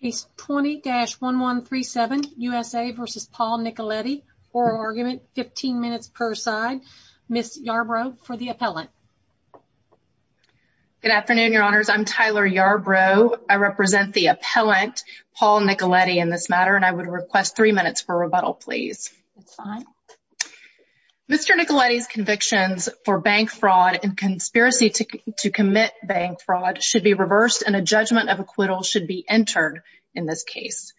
Case 20-1137, USA v. Paul Nicoletti. Oral argument, 15 minutes per side. Ms. Yarbrough for the appellant. Good afternoon, your honors. I'm Tyler Yarbrough. I represent the appellant, Paul Nicoletti, in this matter, and I would request three minutes for rebuttal, please. Mr. Nicoletti's convictions for bank fraud and conspiracy to commit bank fraud should be in this case.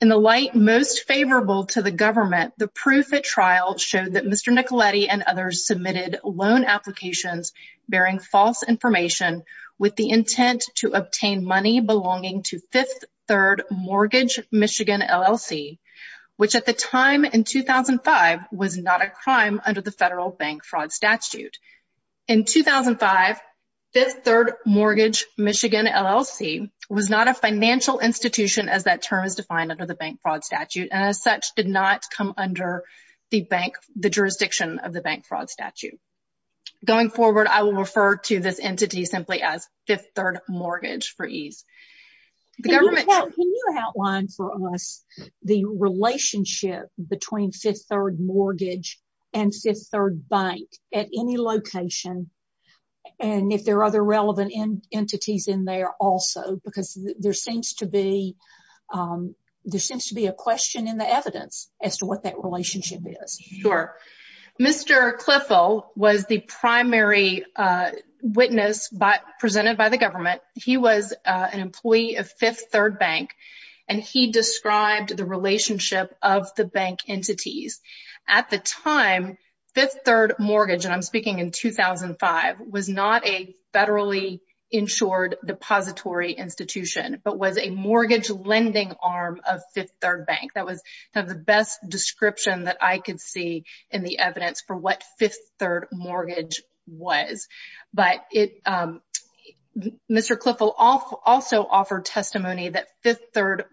In the light most favorable to the government, the proof at trial showed that Mr. Nicoletti and others submitted loan applications bearing false information with the intent to obtain money belonging to Fifth Third Mortgage Michigan LLC, which at the time in 2005 was not a crime under the federal bank fraud statute. In 2005, Fifth Third Mortgage Michigan LLC was not a financial institution as that term is defined under the bank fraud statute and as such did not come under the bank, the jurisdiction of the bank fraud statute. Going forward, I will refer to this entity simply as Fifth Third Mortgage for ease. Can you outline for us the relationship between Fifth Third Mortgage and Fifth Third Bank at any location and if there are other relevant entities in there also? Because there seems to be there seems to be a question in the evidence as to what that relationship is. Sure. Mr. Cliffel was the primary witness presented by the government. He was an employee of Fifth Third Bank and he described the relationship of the bank entities. At the time, Fifth Third Mortgage, and I'm speaking in 2005, was not a federally insured depository institution but was a mortgage lending arm of Fifth Third Bank. That was the best description that I could see in the evidence for what Fifth Third Mortgage was. But Mr. Cliffel also offered testimony that Fifth Third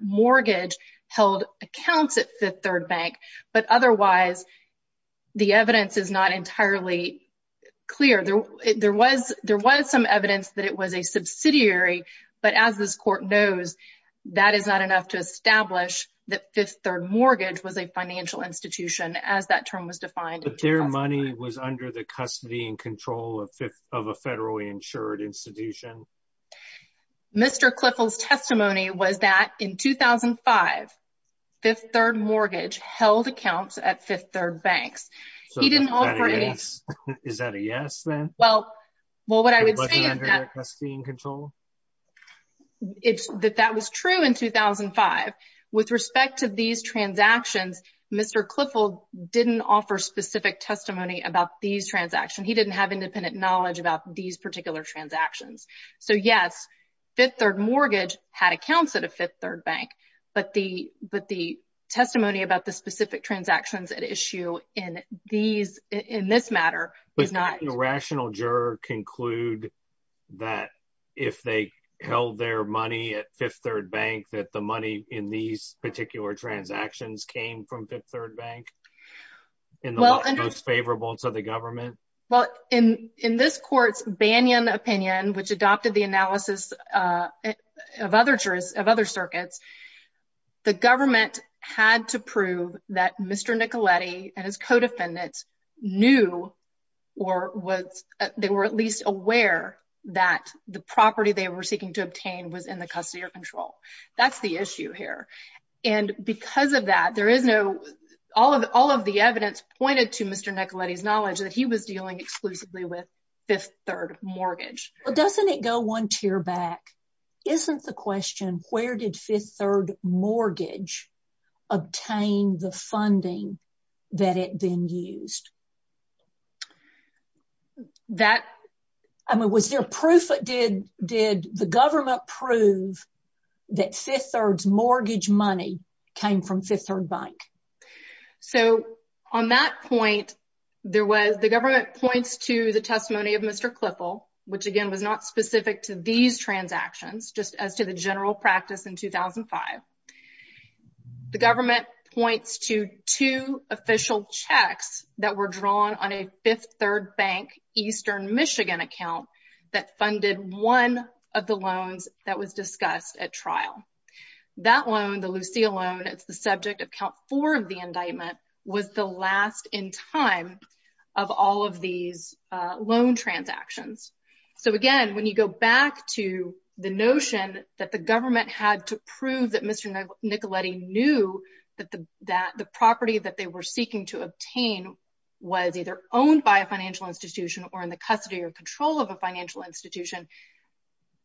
Bank, but otherwise the evidence is not entirely clear. There was some evidence that it was a subsidiary, but as this court knows, that is not enough to establish that Fifth Third Mortgage was a financial institution as that term was defined. But their money was under the custody and control of a federally insured institution. Mr. Cliffel's testimony was that in 2005, Fifth Third Mortgage held accounts at Fifth Third Banks. He didn't offer any... Is that a yes then? Well, what I would say is that... It wasn't under their custody and control? It's that that was true in 2005. With respect to these transactions, Mr. Cliffel didn't offer specific testimony about these transactions. He didn't have So yes, Fifth Third Mortgage had accounts at a Fifth Third Bank, but the testimony about the specific transactions at issue in this matter is not... But can a rational juror conclude that if they held their money at Fifth Third Bank, that the money in these particular transactions came from Fifth Third Bank and the most favorable to the government? Well, in this court's Banyan opinion, which adopted the analysis of other circuits, the government had to prove that Mr. Nicoletti and his co-defendants knew or was... They were at least aware that the property they were seeking to obtain was in the custody or control. That's the issue here. And because of that, there is no... All of the evidence pointed to Mr. Nicoletti's knowledge that he was exclusively with Fifth Third Mortgage. Well, doesn't it go one tier back? Isn't the question, where did Fifth Third Mortgage obtain the funding that it then used? I mean, was there proof? Did the government prove that Fifth Third's mortgage money came from Fifth Third Bank? So on that point, there was... The government points to the testimony of Mr. Cliffel, which again was not specific to these transactions, just as to the general practice in 2005. The government points to two official checks that were drawn on a Fifth Third Bank Eastern Michigan account That loan, the Lucille loan, it's the subject of count four of the indictment, was the last in time of all of these loan transactions. So again, when you go back to the notion that the government had to prove that Mr. Nicoletti knew that the property that they were seeking to obtain was either owned by a financial institution or in the custody or control of a financial institution,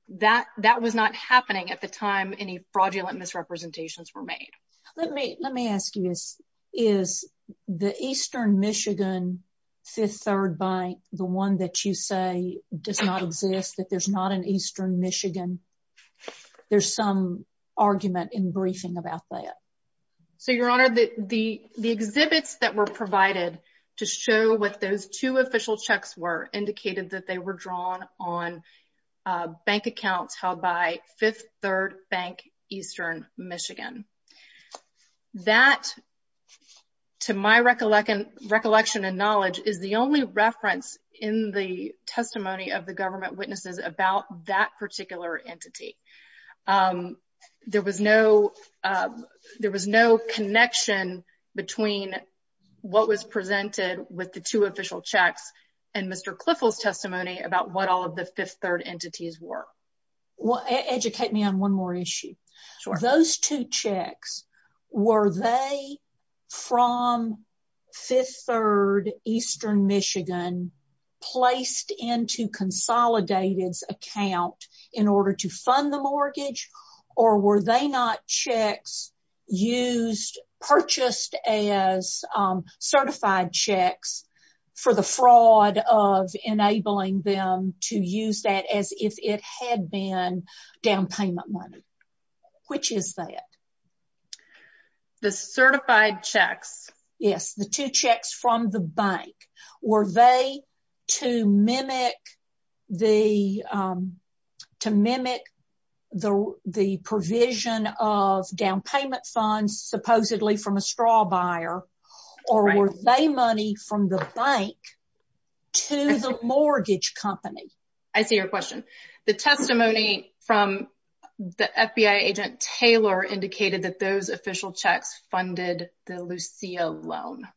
that was not happening at the time any fraudulent misrepresentations were made. Let me ask you this. Is the Eastern Michigan Fifth Third Bank, the one that you say does not exist, that there's not an Eastern Michigan, there's some argument in briefing about that? So your honor, the exhibits that were provided to show what those two official checks were indicated that they were drawn on bank accounts held by Fifth Third Bank Eastern Michigan. That, to my recollection and knowledge, is the only reference in the testimony of the government witnesses about that particular entity. There was no connection between what was presented with the two official checks and Mr. Clifford's testimony about what all of the Fifth Third entities were. Educate me on one more issue. Those two checks, were they from Fifth Third Eastern Michigan placed into Consolidated's account in order to fund the mortgage or were they not checks used, purchased as certified checks for the fraud of enabling them to use that as if it had been down payment money? Which is that? The certified checks. Yes, the two checks from the bank. Were they to mimic the provision of down payment funds supposedly from a straw buyer or were they money from the bank to the mortgage company? I see your question. The testimony from the FBI agent Taylor indicated that those official checks funded the Lucia loan.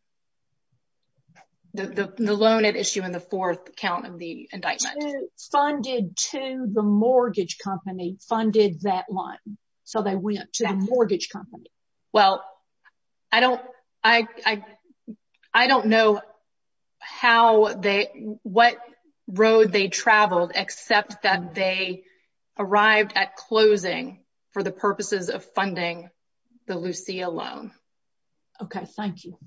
The loan at issue in the fourth count of the indictment. Funded to the mortgage company, funded that loan. So they went to the mortgage company. Well, I don't know what road they traveled except that they arrived at closing for the purposes of funding the Lucia loan. Okay, thank you.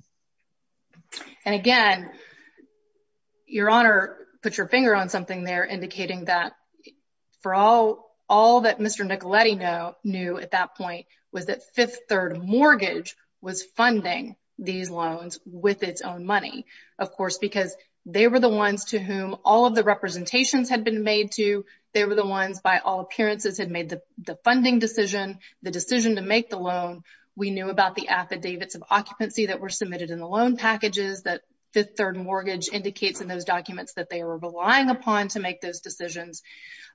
And again, your honor put your finger on something there indicating that for all that Mr. Nicoletti knew at that point was that Fifth Third Mortgage was funding these loans with its own money. Of course, because they were the ones to whom all of the representations had been made to. They were the ones by all appearances had made the funding decision, the decision to make the loan. We knew about the affidavits of occupancy that were submitted in the loan packages that Fifth Third Mortgage indicates in those documents that they were relying upon to make those decisions.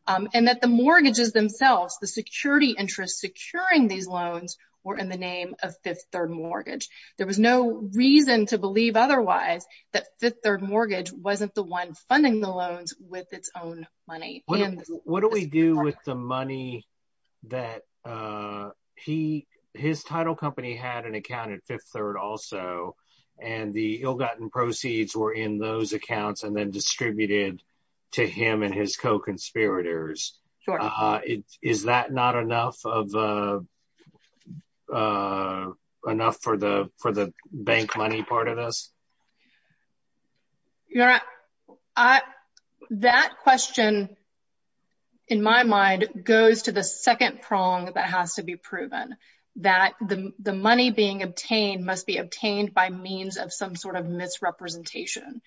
And that the mortgages themselves, the security interests securing these loans were in the name of Fifth Third Mortgage. There was no reason to believe otherwise that Fifth Third Mortgage wasn't the one funding the loans with its own money. What do we do with the money that his title company had an account at Fifth Third also and the ill-gotten proceeds were in those accounts and then distributed to him and his co-conspirators? Sure. Is that not enough of enough for the for the bank money part of this? Your honor, that question in my mind goes to the second prong that has to be proven. That the money being obtained must be obtained by means of some sort of misrepresentation.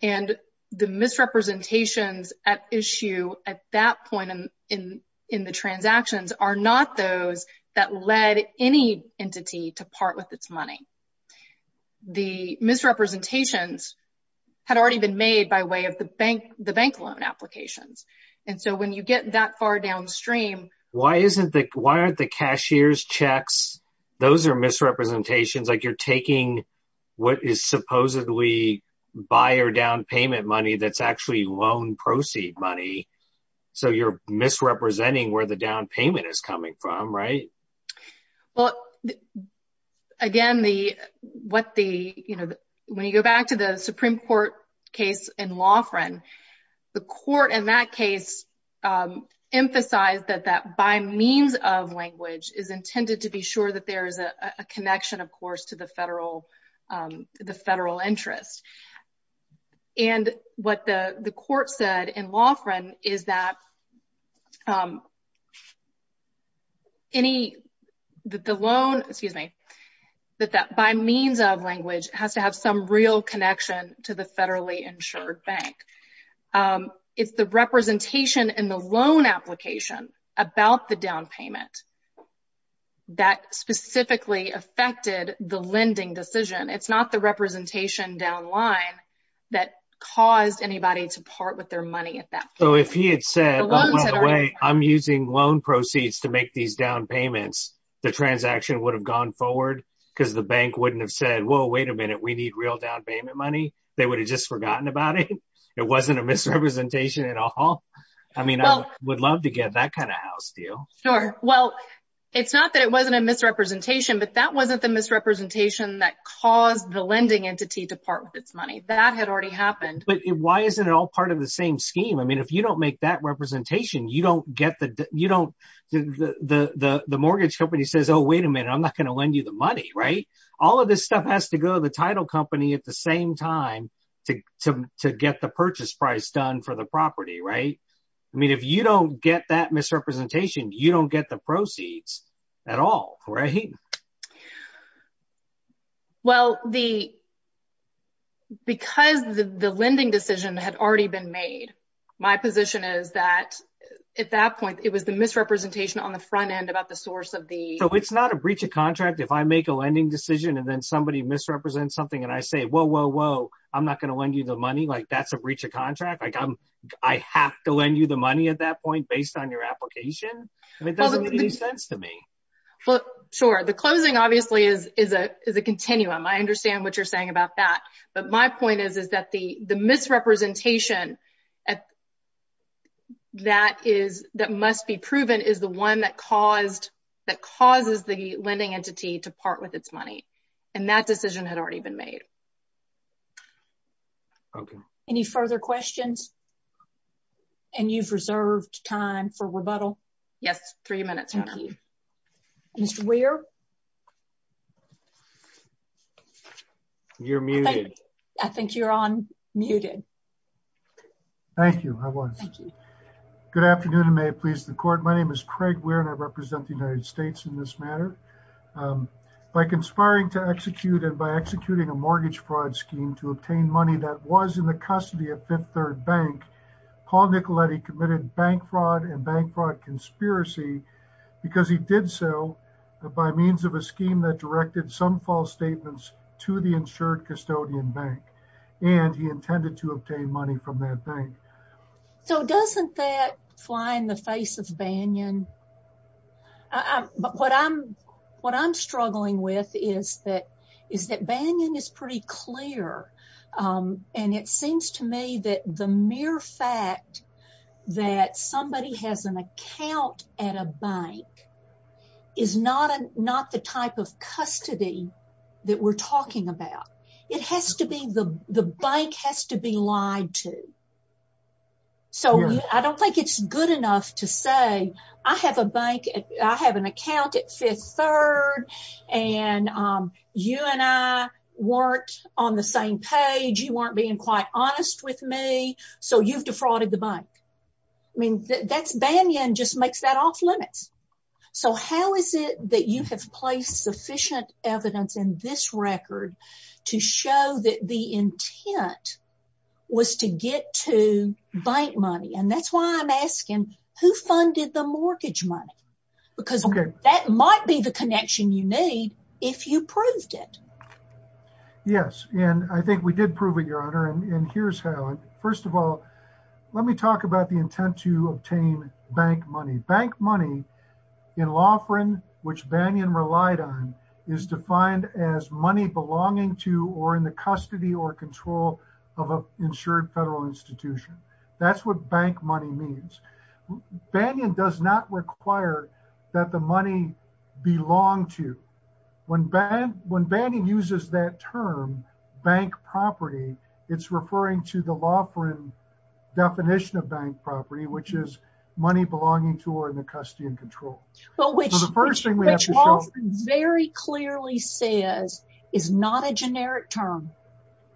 And the misrepresentations at issue at that point in the transactions are not those that led any entity to part with its money. The misrepresentations had already been made by way of the bank loan applications. And so when you get that far downstream... Why aren't the cashier's checks, those are misrepresentations like you're supposedly buyer down payment money that's actually loan proceed money. So you're misrepresenting where the down payment is coming from, right? Again, when you go back to the Supreme Court case in Laughran, the court in that case emphasized that by means of language is intended to be sure that there is a federal interest. And what the the court said in Laughran is that any that the loan, excuse me, that that by means of language has to have some real connection to the federally insured bank. It's the representation in the loan application about the down payment that specifically affected the lending decision. It's not the representation down line that caused anybody to part with their money at that point. So if he had said, by the way, I'm using loan proceeds to make these down payments, the transaction would have gone forward because the bank wouldn't have said, whoa, wait a minute, we need real down payment money. They would have just forgotten about it. It wasn't a misrepresentation at all. I mean, I would love to get that kind of house deal. Sure. Well, it's not that it wasn't a misrepresentation, but that wasn't the misrepresentation that caused the lending entity to part with its money. That had already happened. But why isn't it all part of the same scheme? I mean, if you don't make that representation, you don't get the you don't the the the mortgage company says, oh, wait a minute, I'm not going to lend you the money. Right. All of this stuff has to go to the title company at the same time to to get the purchase price done for the property. Right. I mean, if you don't get that misrepresentation, you don't get the proceeds at all. Right. Well, the. Because the lending decision had already been made, my position is that at that point it was the misrepresentation on the front end about the source of the. So it's not a breach of contract. If I make a lending decision and then somebody misrepresents something and I say, whoa, whoa, whoa, I'm not going to lend you the money like that's a breach of contract. Like I'm I have to lend you the money at that point based on your application. It doesn't make any sense to me. Well, sure. The closing obviously is is a is a continuum. I understand what you're saying about that. But my point is, is that the the misrepresentation that is that must be proven is the one that caused that causes the lending entity to part with its money. And that decision had already been made. Okay. Any further questions? And you've reserved time for rebuttal. Yes. Three minutes. Thank you. Mr. Weir. You're muted. I think you're on muted. Thank you. I was. Thank you. Good afternoon and may it please the court. My name is Craig Weir and I represent the United States in this matter. By conspiring to execute and by scheme to obtain money that was in the custody of Fifth Third Bank, Paul Nicoletti committed bank fraud and bank fraud conspiracy because he did so by means of a scheme that directed some false statements to the insured custodian bank and he intended to obtain money from that bank. So doesn't that fly in the face of Banyan? But what I'm what I'm struggling with is that is that Banyan is pretty clear. And it seems to me that the mere fact that somebody has an account at a bank is not not the type of custody that we're talking about. It has to be the the bank has to be lied to. So I don't think it's good enough to say I have a bank. I have an account at Fifth Third and you and I weren't on the same page. You weren't being quite honest with me. So you've defrauded the bank. I mean, that's Banyan just makes that off limits. So how is it that you have placed sufficient evidence in this record to show that the intent was to get to bank money? And that's why I'm asking who funded the mortgage money? Because that might be the connection you need if you proved it. Yes, and I think we did prove it, Your Honor. And here's how. First of all, let me talk about the intent to obtain bank money. Bank money in law, which Banyan relied on is defined as money belonging to or in the custody or control of an insured federal institution. That's what bank money means. Banyan does not require that the money belong to. When Banyan uses that term bank property, it's referring to the law for a definition of bank property, which is money belonging to or in the custody and control. Well, which very clearly says is not a generic term.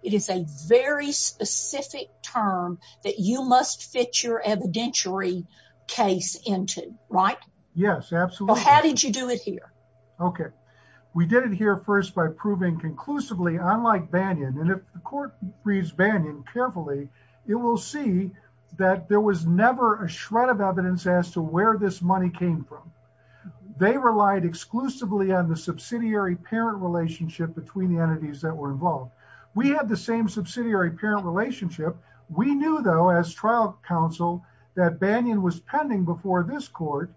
It is a very specific term that you must fit your evidentiary case into, right? Yes, absolutely. How did you do it here? Okay. We did it here first by proving conclusively, unlike Banyan. And if the court reads Banyan carefully, it will see that there was never a shred of evidence as to where this came from. They relied exclusively on the subsidiary parent relationship between the entities that were involved. We had the same subsidiary parent relationship. We knew though, as trial counsel, that Banyan was pending before this court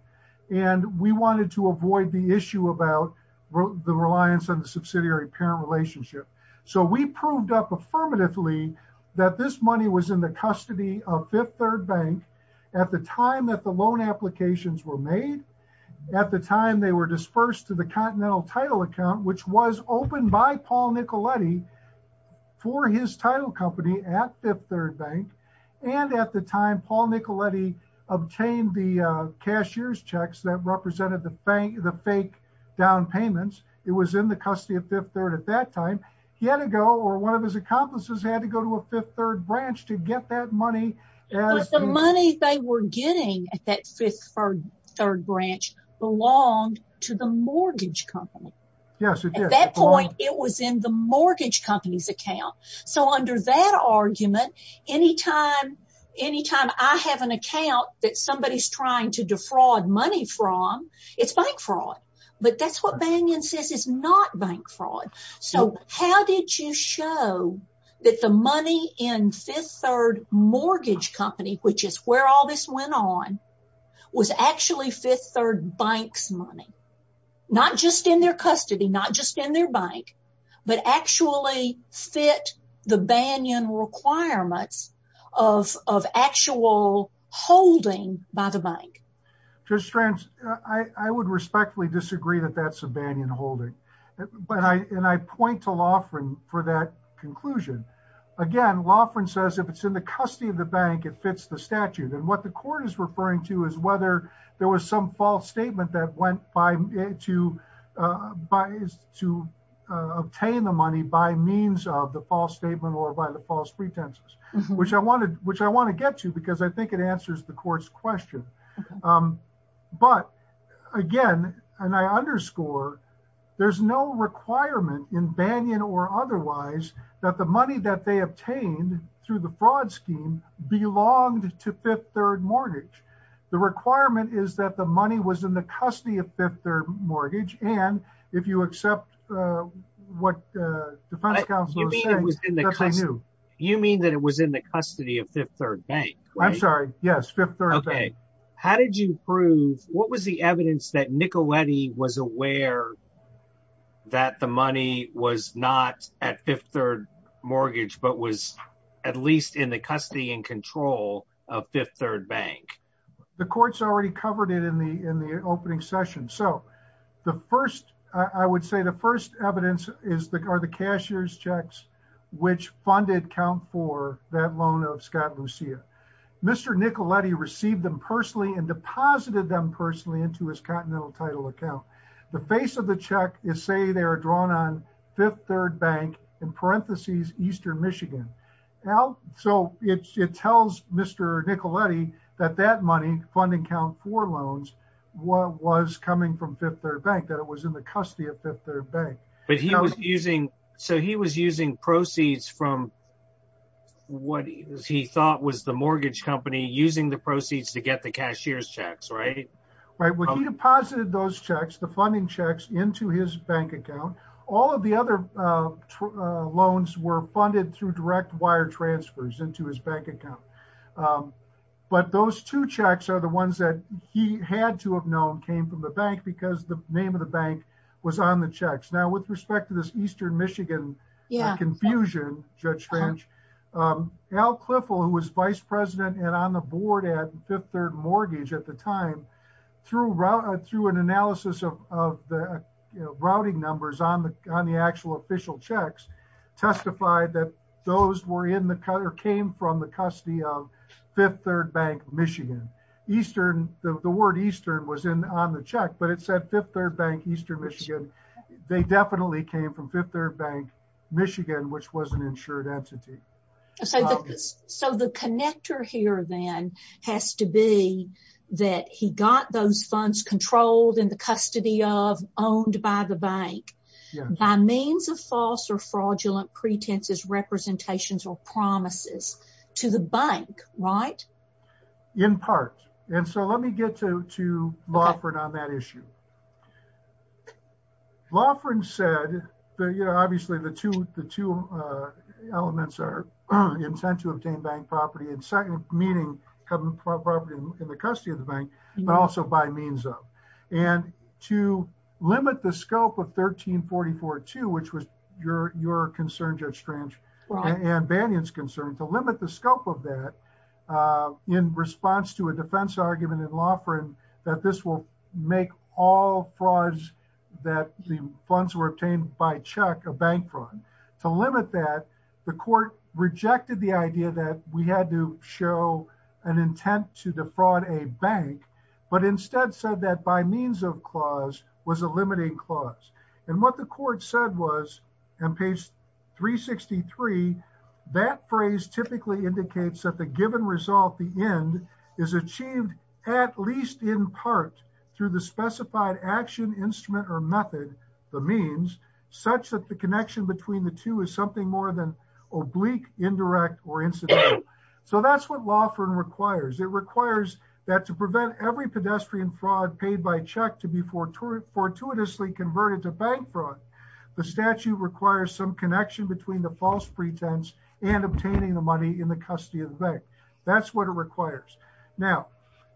and we wanted to avoid the issue about the reliance on the subsidiary parent relationship. So we proved up affirmatively that this money was in the custody of Fifth Third Bank at the time that the loan applications were made. At the time they were dispersed to the Continental title account, which was opened by Paul Nicoletti for his title company at Fifth Third Bank. And at the time, Paul Nicoletti obtained the cashier's checks that represented the fake down payments. It was in the custody of Fifth Third at that time. He had to go or one of his accomplices had to go to a Fifth Third branch to get that money. The money they were getting at that Fifth Third branch belonged to the mortgage company. Yes, it did. At that point it was in the mortgage company's account. So under that argument, anytime I have an account that somebody's trying to defraud money from, it's bank fraud. But that's what Banyan says is not bank fraud. So how did you show that the money in Fifth Third mortgage company, which is where all this went on, was actually Fifth Third Bank's money? Not just in their custody, not just in their bank, but actually fit the Banyan requirements of actual holding by the bank. Judge Strantz, I would respectfully disagree that that's a Banyan holding. And I point to Loughran for that conclusion. Again, Loughran says if it's in the custody of the bank, it fits the statute. And what the court is referring to is whether there was some false statement that went to obtain the money by means of the false statement or by the false pretenses, which I want to get to because I think it answers the court's question. But again, and I underscore, there's no requirement in Banyan or otherwise that the money that they obtained through the fraud scheme belonged to Fifth Third Mortgage. The requirement is that the money was in the custody of Fifth Third Mortgage. And if you accept what the defense counsel is saying, you mean that it was in the custody of Fifth Third Bank? I'm sorry. Yes. Fifth Third Bank. How did you prove, what was the evidence that Nicoletti was aware that the money was not at Fifth Third Mortgage, but was at least in the custody and control of Fifth Third Bank? The court's already covered it in the opening session. So the first, I would say the first evidence are the cashier's checks, which funded count for that loan of Scott Lucia. Mr. Nicoletti received them personally and deposited them personally into his continental title account. The face of the check is say they are drawn on Fifth Third Bank in parentheses, Eastern Michigan. So it tells Mr. Nicoletti that that money funding count for loans was coming from Fifth Third Bank, that it was in the custody of Fifth Third Bank. But he was using, so he was using proceeds from what he thought was the mortgage company using the proceeds to get the cashier's checks, right? Right. When he deposited those checks, the funding checks into his bank account, all of the other loans were funded through direct wire transfers into his bank account. But those two checks are the ones that he had to have known came from the bank because the name of the bank was on the checks. Now with respect to this Eastern Michigan confusion, Judge French, Al Cliffel, who was vice president and on the board at Fifth Third Mortgage at the time, through an analysis of the routing numbers on the actual official checks, testified that those were in the, or came from the custody of Fifth Third Bank, Michigan. Eastern, the word Eastern was in on the check, but it said Fifth Third Bank, Eastern Michigan. They definitely came from Fifth Third Bank, Michigan, which was an insured entity. So the connector here then has to be that he got those funds controlled in the custody of, owned by the bank by means of false or fraudulent pretenses, representations, or promises to the bank, right? In part. And so the, you know, obviously the two, the two elements are intent to obtain bank property and second, meaning property in the custody of the bank, but also by means of. And to limit the scope of 1344-2, which was your concern, Judge French, and Bannion's concern, to limit the scope of that in response to a defense argument in Laughrin that this will make all frauds that the funds were obtained by check a bank fraud. To limit that, the court rejected the idea that we had to show an intent to defraud a bank, but instead said that by means of clause was a limiting clause. And what the court said was, on page 363, that phrase typically indicates that the given result, the end, is achieved at least in part through the specified action, instrument, or method, the means, such that the connection between the two is something more than oblique, indirect, or incidental. So that's what Laughrin requires. It requires that to prevent every pedestrian fraud paid by check to be fortuitously converted to bank fraud, the statute requires some connection between the false pretense and obtaining the money in the custody of the bank. That's what it requires. Now,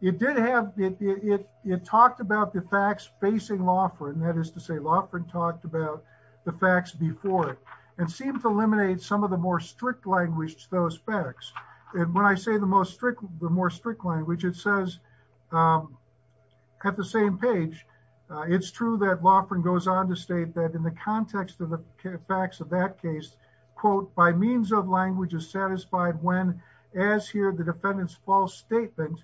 it did have, it talked about the facts facing Laughrin, that is to say Laughrin talked about the facts before it, and seemed to eliminate some of the more strict language to those facts. And when I say the most strict, the more strict language, it says at the same page, it's true that Laughrin goes on to state that in the context of the facts of that case, quote, by means of language is satisfied when, as here, the defendant's false statement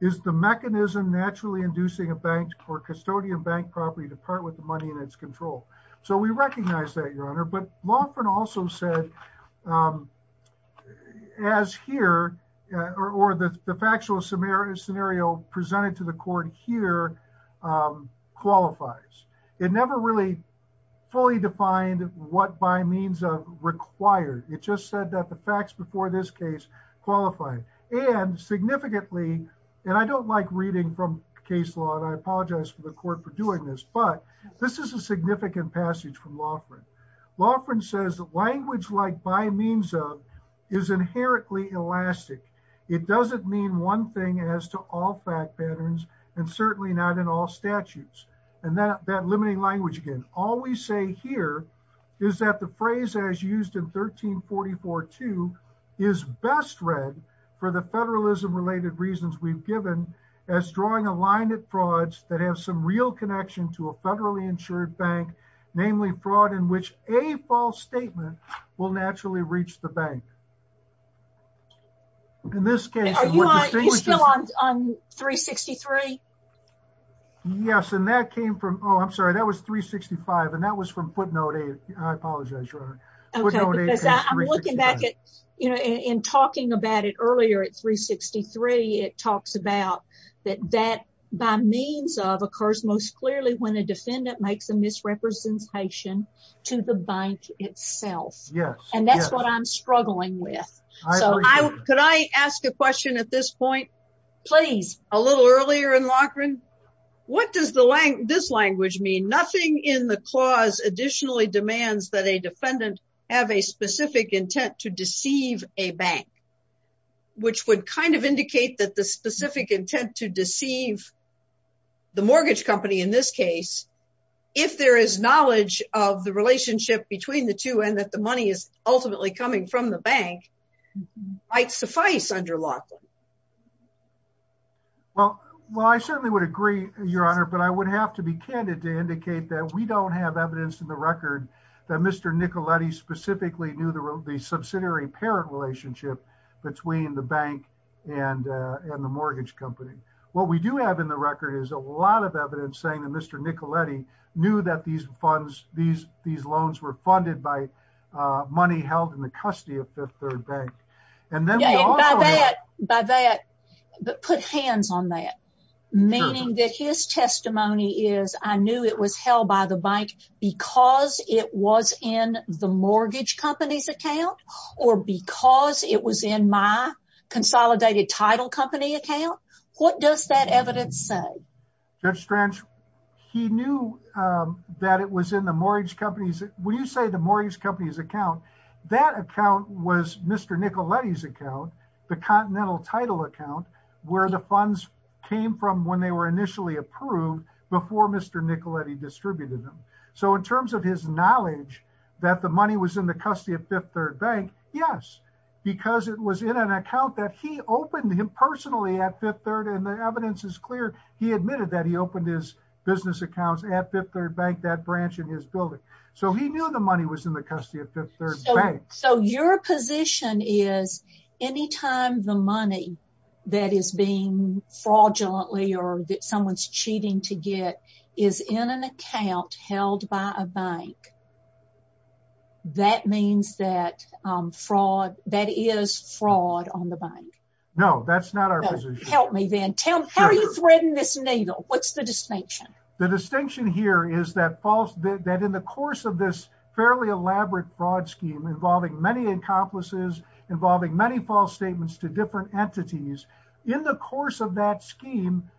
is the mechanism naturally inducing a bank or custodian bank property to part with the money in its control. So we recognize that, Your Honor, but Laughrin also said, as here, or the factual scenario presented to the court here qualifies. It never really fully defined what by means of required. It just said that the facts before this case qualify. And significantly, and I don't like reading from case law, and I apologize for the court for doing this, but this is a significant passage from Laughrin. Laughrin says that language like by means of is inherently elastic. It doesn't mean one thing as to all fact patterns, and certainly not in all statutes. And that limiting language again, all we say here is that the phrase as used in 1344-2 is best read for the federalism related reasons we've given as drawing a line at frauds that have some real connection to a federally insured bank, namely fraud in which a false statement will naturally reach the bank. Are you still on 363? Yes, and that came from, oh, I'm sorry, that was 365. And that was from footnote eight. I apologize, Your Honor. Okay, because I'm looking back at, you know, in talking about it earlier at 363, it talks about that that by means of occurs most clearly when a defendant makes a misrepresentation to the bank itself. And that's what I'm struggling with. So could I ask a question at this point? Please. A little earlier in Laughrin, what does this language mean? Nothing in the clause additionally demands that a defendant have a specific intent to deceive a bank, which would kind of indicate that the specific intent to deceive the mortgage company in this case, if there is knowledge of the relationship between the two and that the money is ultimately coming from the bank, might suffice under Laughrin. Well, I certainly would agree, Your Honor, but I would have to be candid to indicate that we don't have evidence in the record that Mr. Nicoletti specifically knew the subsidiary parent relationship between the bank and the mortgage company. What we do have in the record is a lot of evidence saying that Mr. Nicoletti knew that these funds, these loans were funded by money held in the custody of Fifth Third Bank. And then by that, put hands on that, meaning that his testimony is I knew it was held by the company account. What does that evidence say? Judge Strange, he knew that it was in the mortgage company's, when you say the mortgage company's account, that account was Mr. Nicoletti's account, the continental title account, where the funds came from when they were initially approved before Mr. Nicoletti distributed them. So in terms of his knowledge that the money was in the custody of Fifth Third Bank, yes, because it was in an account that he opened him personally at Fifth Third and the evidence is clear. He admitted that he opened his business accounts at Fifth Third Bank, that branch in his building. So he knew the money was in the custody of Fifth Third Bank. So your position is anytime the money that is being fraudulently or that someone's cheating to get is in an account held by a bank, that means that fraud, that is fraud on the bank. No, that's not our position. Help me then. Tell me, how are you threading this needle? What's the distinction? The distinction here is that false, that in the course of this fairly elaborate fraud scheme involving many accomplices, involving many false statements to different entities, in the course of that scheme,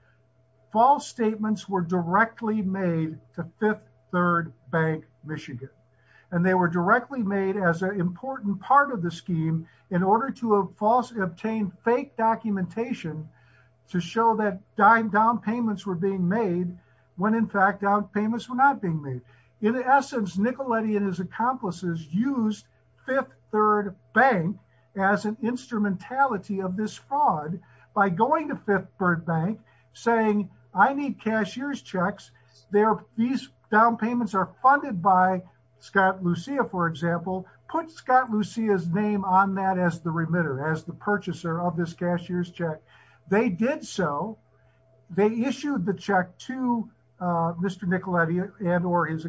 false statements were directly made to Fifth Third Bank, Michigan, and they were directly made as an important part of the scheme in order to falsely obtain fake documentation to show that down payments were being made when in fact down payments were not being made. In essence, Nicoletti and his accomplices used Fifth Third Bank as an instrumentality of this fraud by going to Fifth Third Bank, saying, I need cashier's checks. These down payments are funded by Scott Lucia, for example. Put Scott Lucia's name on that as the remitter, as the purchaser of this cashier's check. They did so. They issued the check to Mr. Nicoletti and or his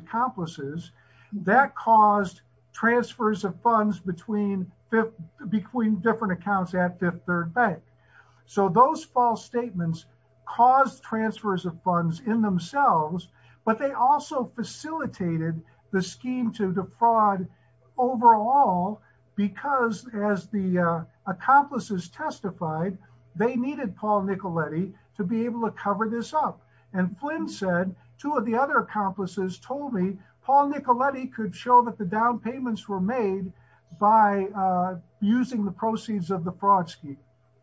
bank. So those false statements caused transfers of funds in themselves, but they also facilitated the scheme to defraud overall, because as the accomplices testified, they needed Paul Nicoletti to be able to cover this up. And Flynn said, two of the other accomplices told me, Paul Nicoletti could show that the down payments were made by using the proceeds of the fraud scheme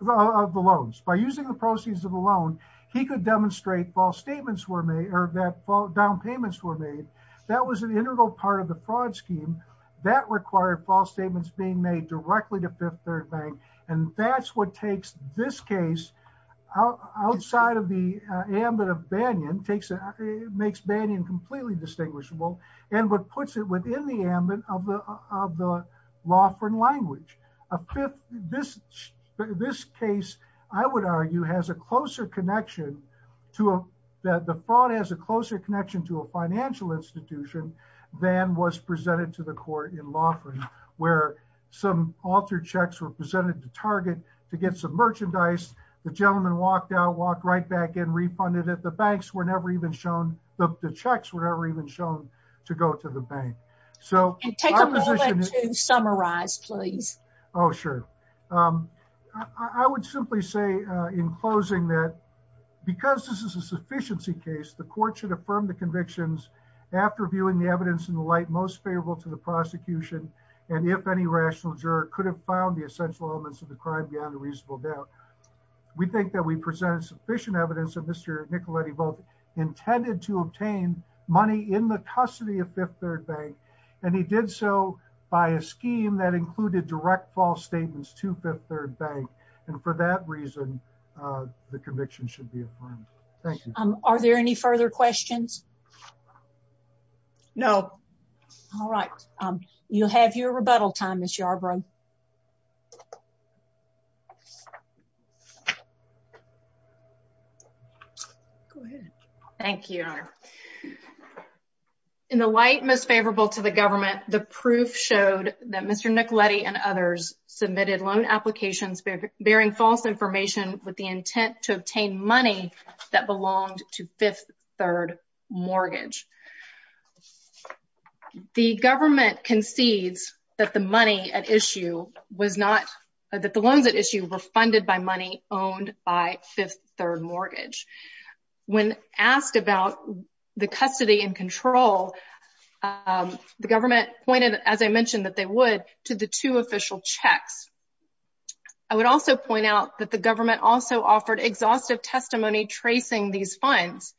of the loans. By using the proceeds of the loan, he could demonstrate false statements were made or that down payments were made. That was an integral part of the fraud scheme that required false statements being made directly to Fifth Third Bank. And that's what takes this case outside of the completely distinguishable and what puts it within the ambit of the Loughran language. This case, I would argue, has a closer connection to a, that the fraud has a closer connection to a financial institution than was presented to the court in Loughran, where some altered checks were presented to Target to get some merchandise. The gentleman walked out, walked right back in, refunded it. The banks were never even shown, the checks were never even shown to go to the bank. So our position is- Take a moment to summarize, please. Oh, sure. I would simply say in closing that because this is a sufficiency case, the court should affirm the convictions after viewing the evidence in the light most favorable to the prosecution. And if any rational juror could have found the essential elements of the crime beyond reasonable doubt, we think that we present sufficient evidence that Mr. Nicoletti both intended to obtain money in the custody of Fifth Third Bank, and he did so by a scheme that included direct false statements to Fifth Third Bank. And for that reason, the conviction should be affirmed. Thank you. Are there any further questions? No. All right. You'll have your time. Go ahead. Thank you. In the light most favorable to the government, the proof showed that Mr. Nicoletti and others submitted loan applications bearing false information with the intent to obtain money that belonged to Fifth Third Mortgage. The government concedes that the money at issue was not- that the loans at issue were funded by money owned by Fifth Third Mortgage. When asked about the custody and control, the government pointed, as I mentioned, that they would to the two official checks. I would also point out that the government also offered exhaustive testimony tracing these funds.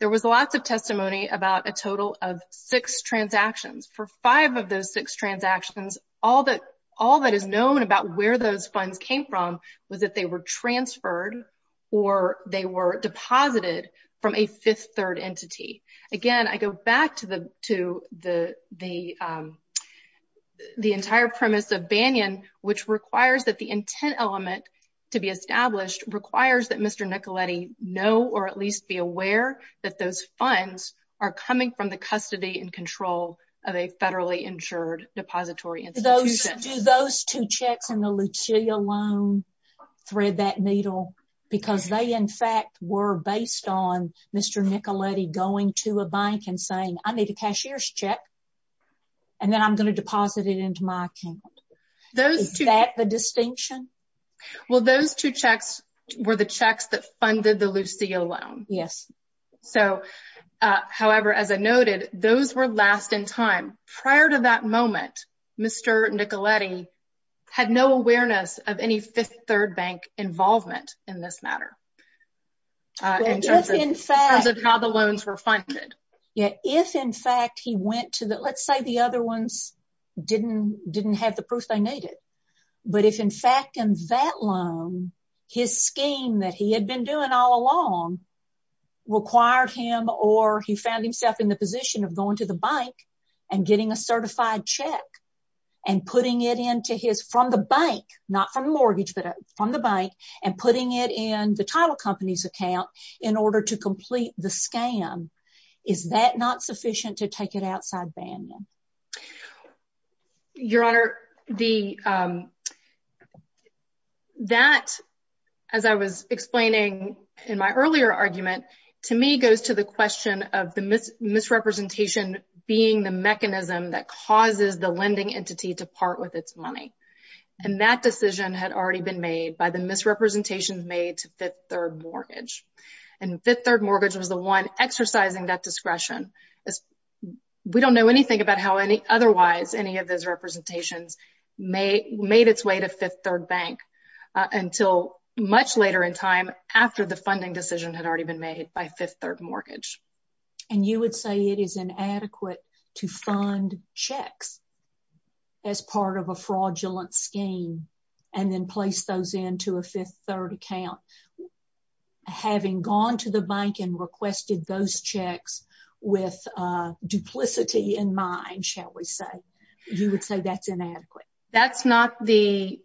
There was lots of testimony about a total of six transactions. For five of those six transactions, all that is known about where those funds came from was that they were transferred or they were deposited from a Fifth Third entity. Again, I go back to the entire premise of Banyan, which requires that the intent element to be established requires that Mr. Nicoletti know or at least be aware that those funds are coming from the custody and control of a federally insured depository institution. Do those two checks in the Lucilia loan thread that needle? Because they, in fact, were based on Mr. Nicoletti going to a bank and saying, I need a cashier's check and then I'm going to deposit it into my account. Is that the distinction? Well, those two checks were the checks that funded the Lucilia loan. However, as I noted, those were last in time. Prior to that moment, Mr. Nicoletti had no awareness of any Fifth Third bank involvement in this matter in terms of how the loans were funded. If, in fact, he went to let's say the other ones didn't have the proof they needed. But if, in fact, in that loan, his scheme that he had been doing all along required him or he found himself in the position of going to the bank and getting a certified check and putting it into his from the bank, not from mortgage, but from the bank and putting it in the title company's account in order to complete the scam. Is that not sufficient to take it outside Banyan? Your Honor, that, as I was explaining in my earlier argument, to me goes to the question of the misrepresentation being the mechanism that causes the lending entity to part with its money. And that decision had already been made by the misrepresentations made to Fifth Third mortgage. And Fifth Third mortgage was the one exercising that discretion. We don't know anything about how any otherwise any of those representations made its way to Fifth Third bank until much later in time after the funding decision had already been made by Fifth Third mortgage. And you would say it is inadequate to fund checks as part of a fraudulent scheme and then place those into a Fifth Third account without having gone to the bank and requested those checks with duplicity in mind, shall we say? You would say that's inadequate. That's not the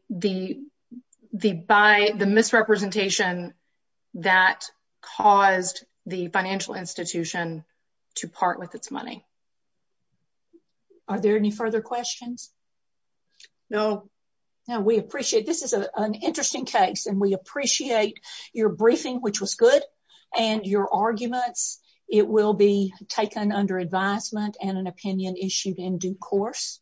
misrepresentation that caused the financial institution to part with its money. Are there any further questions? No. Now, we appreciate this is an interesting case, and we appreciate your briefing, which was good, and your arguments. It will be taken under advisement and an opinion issued in due course.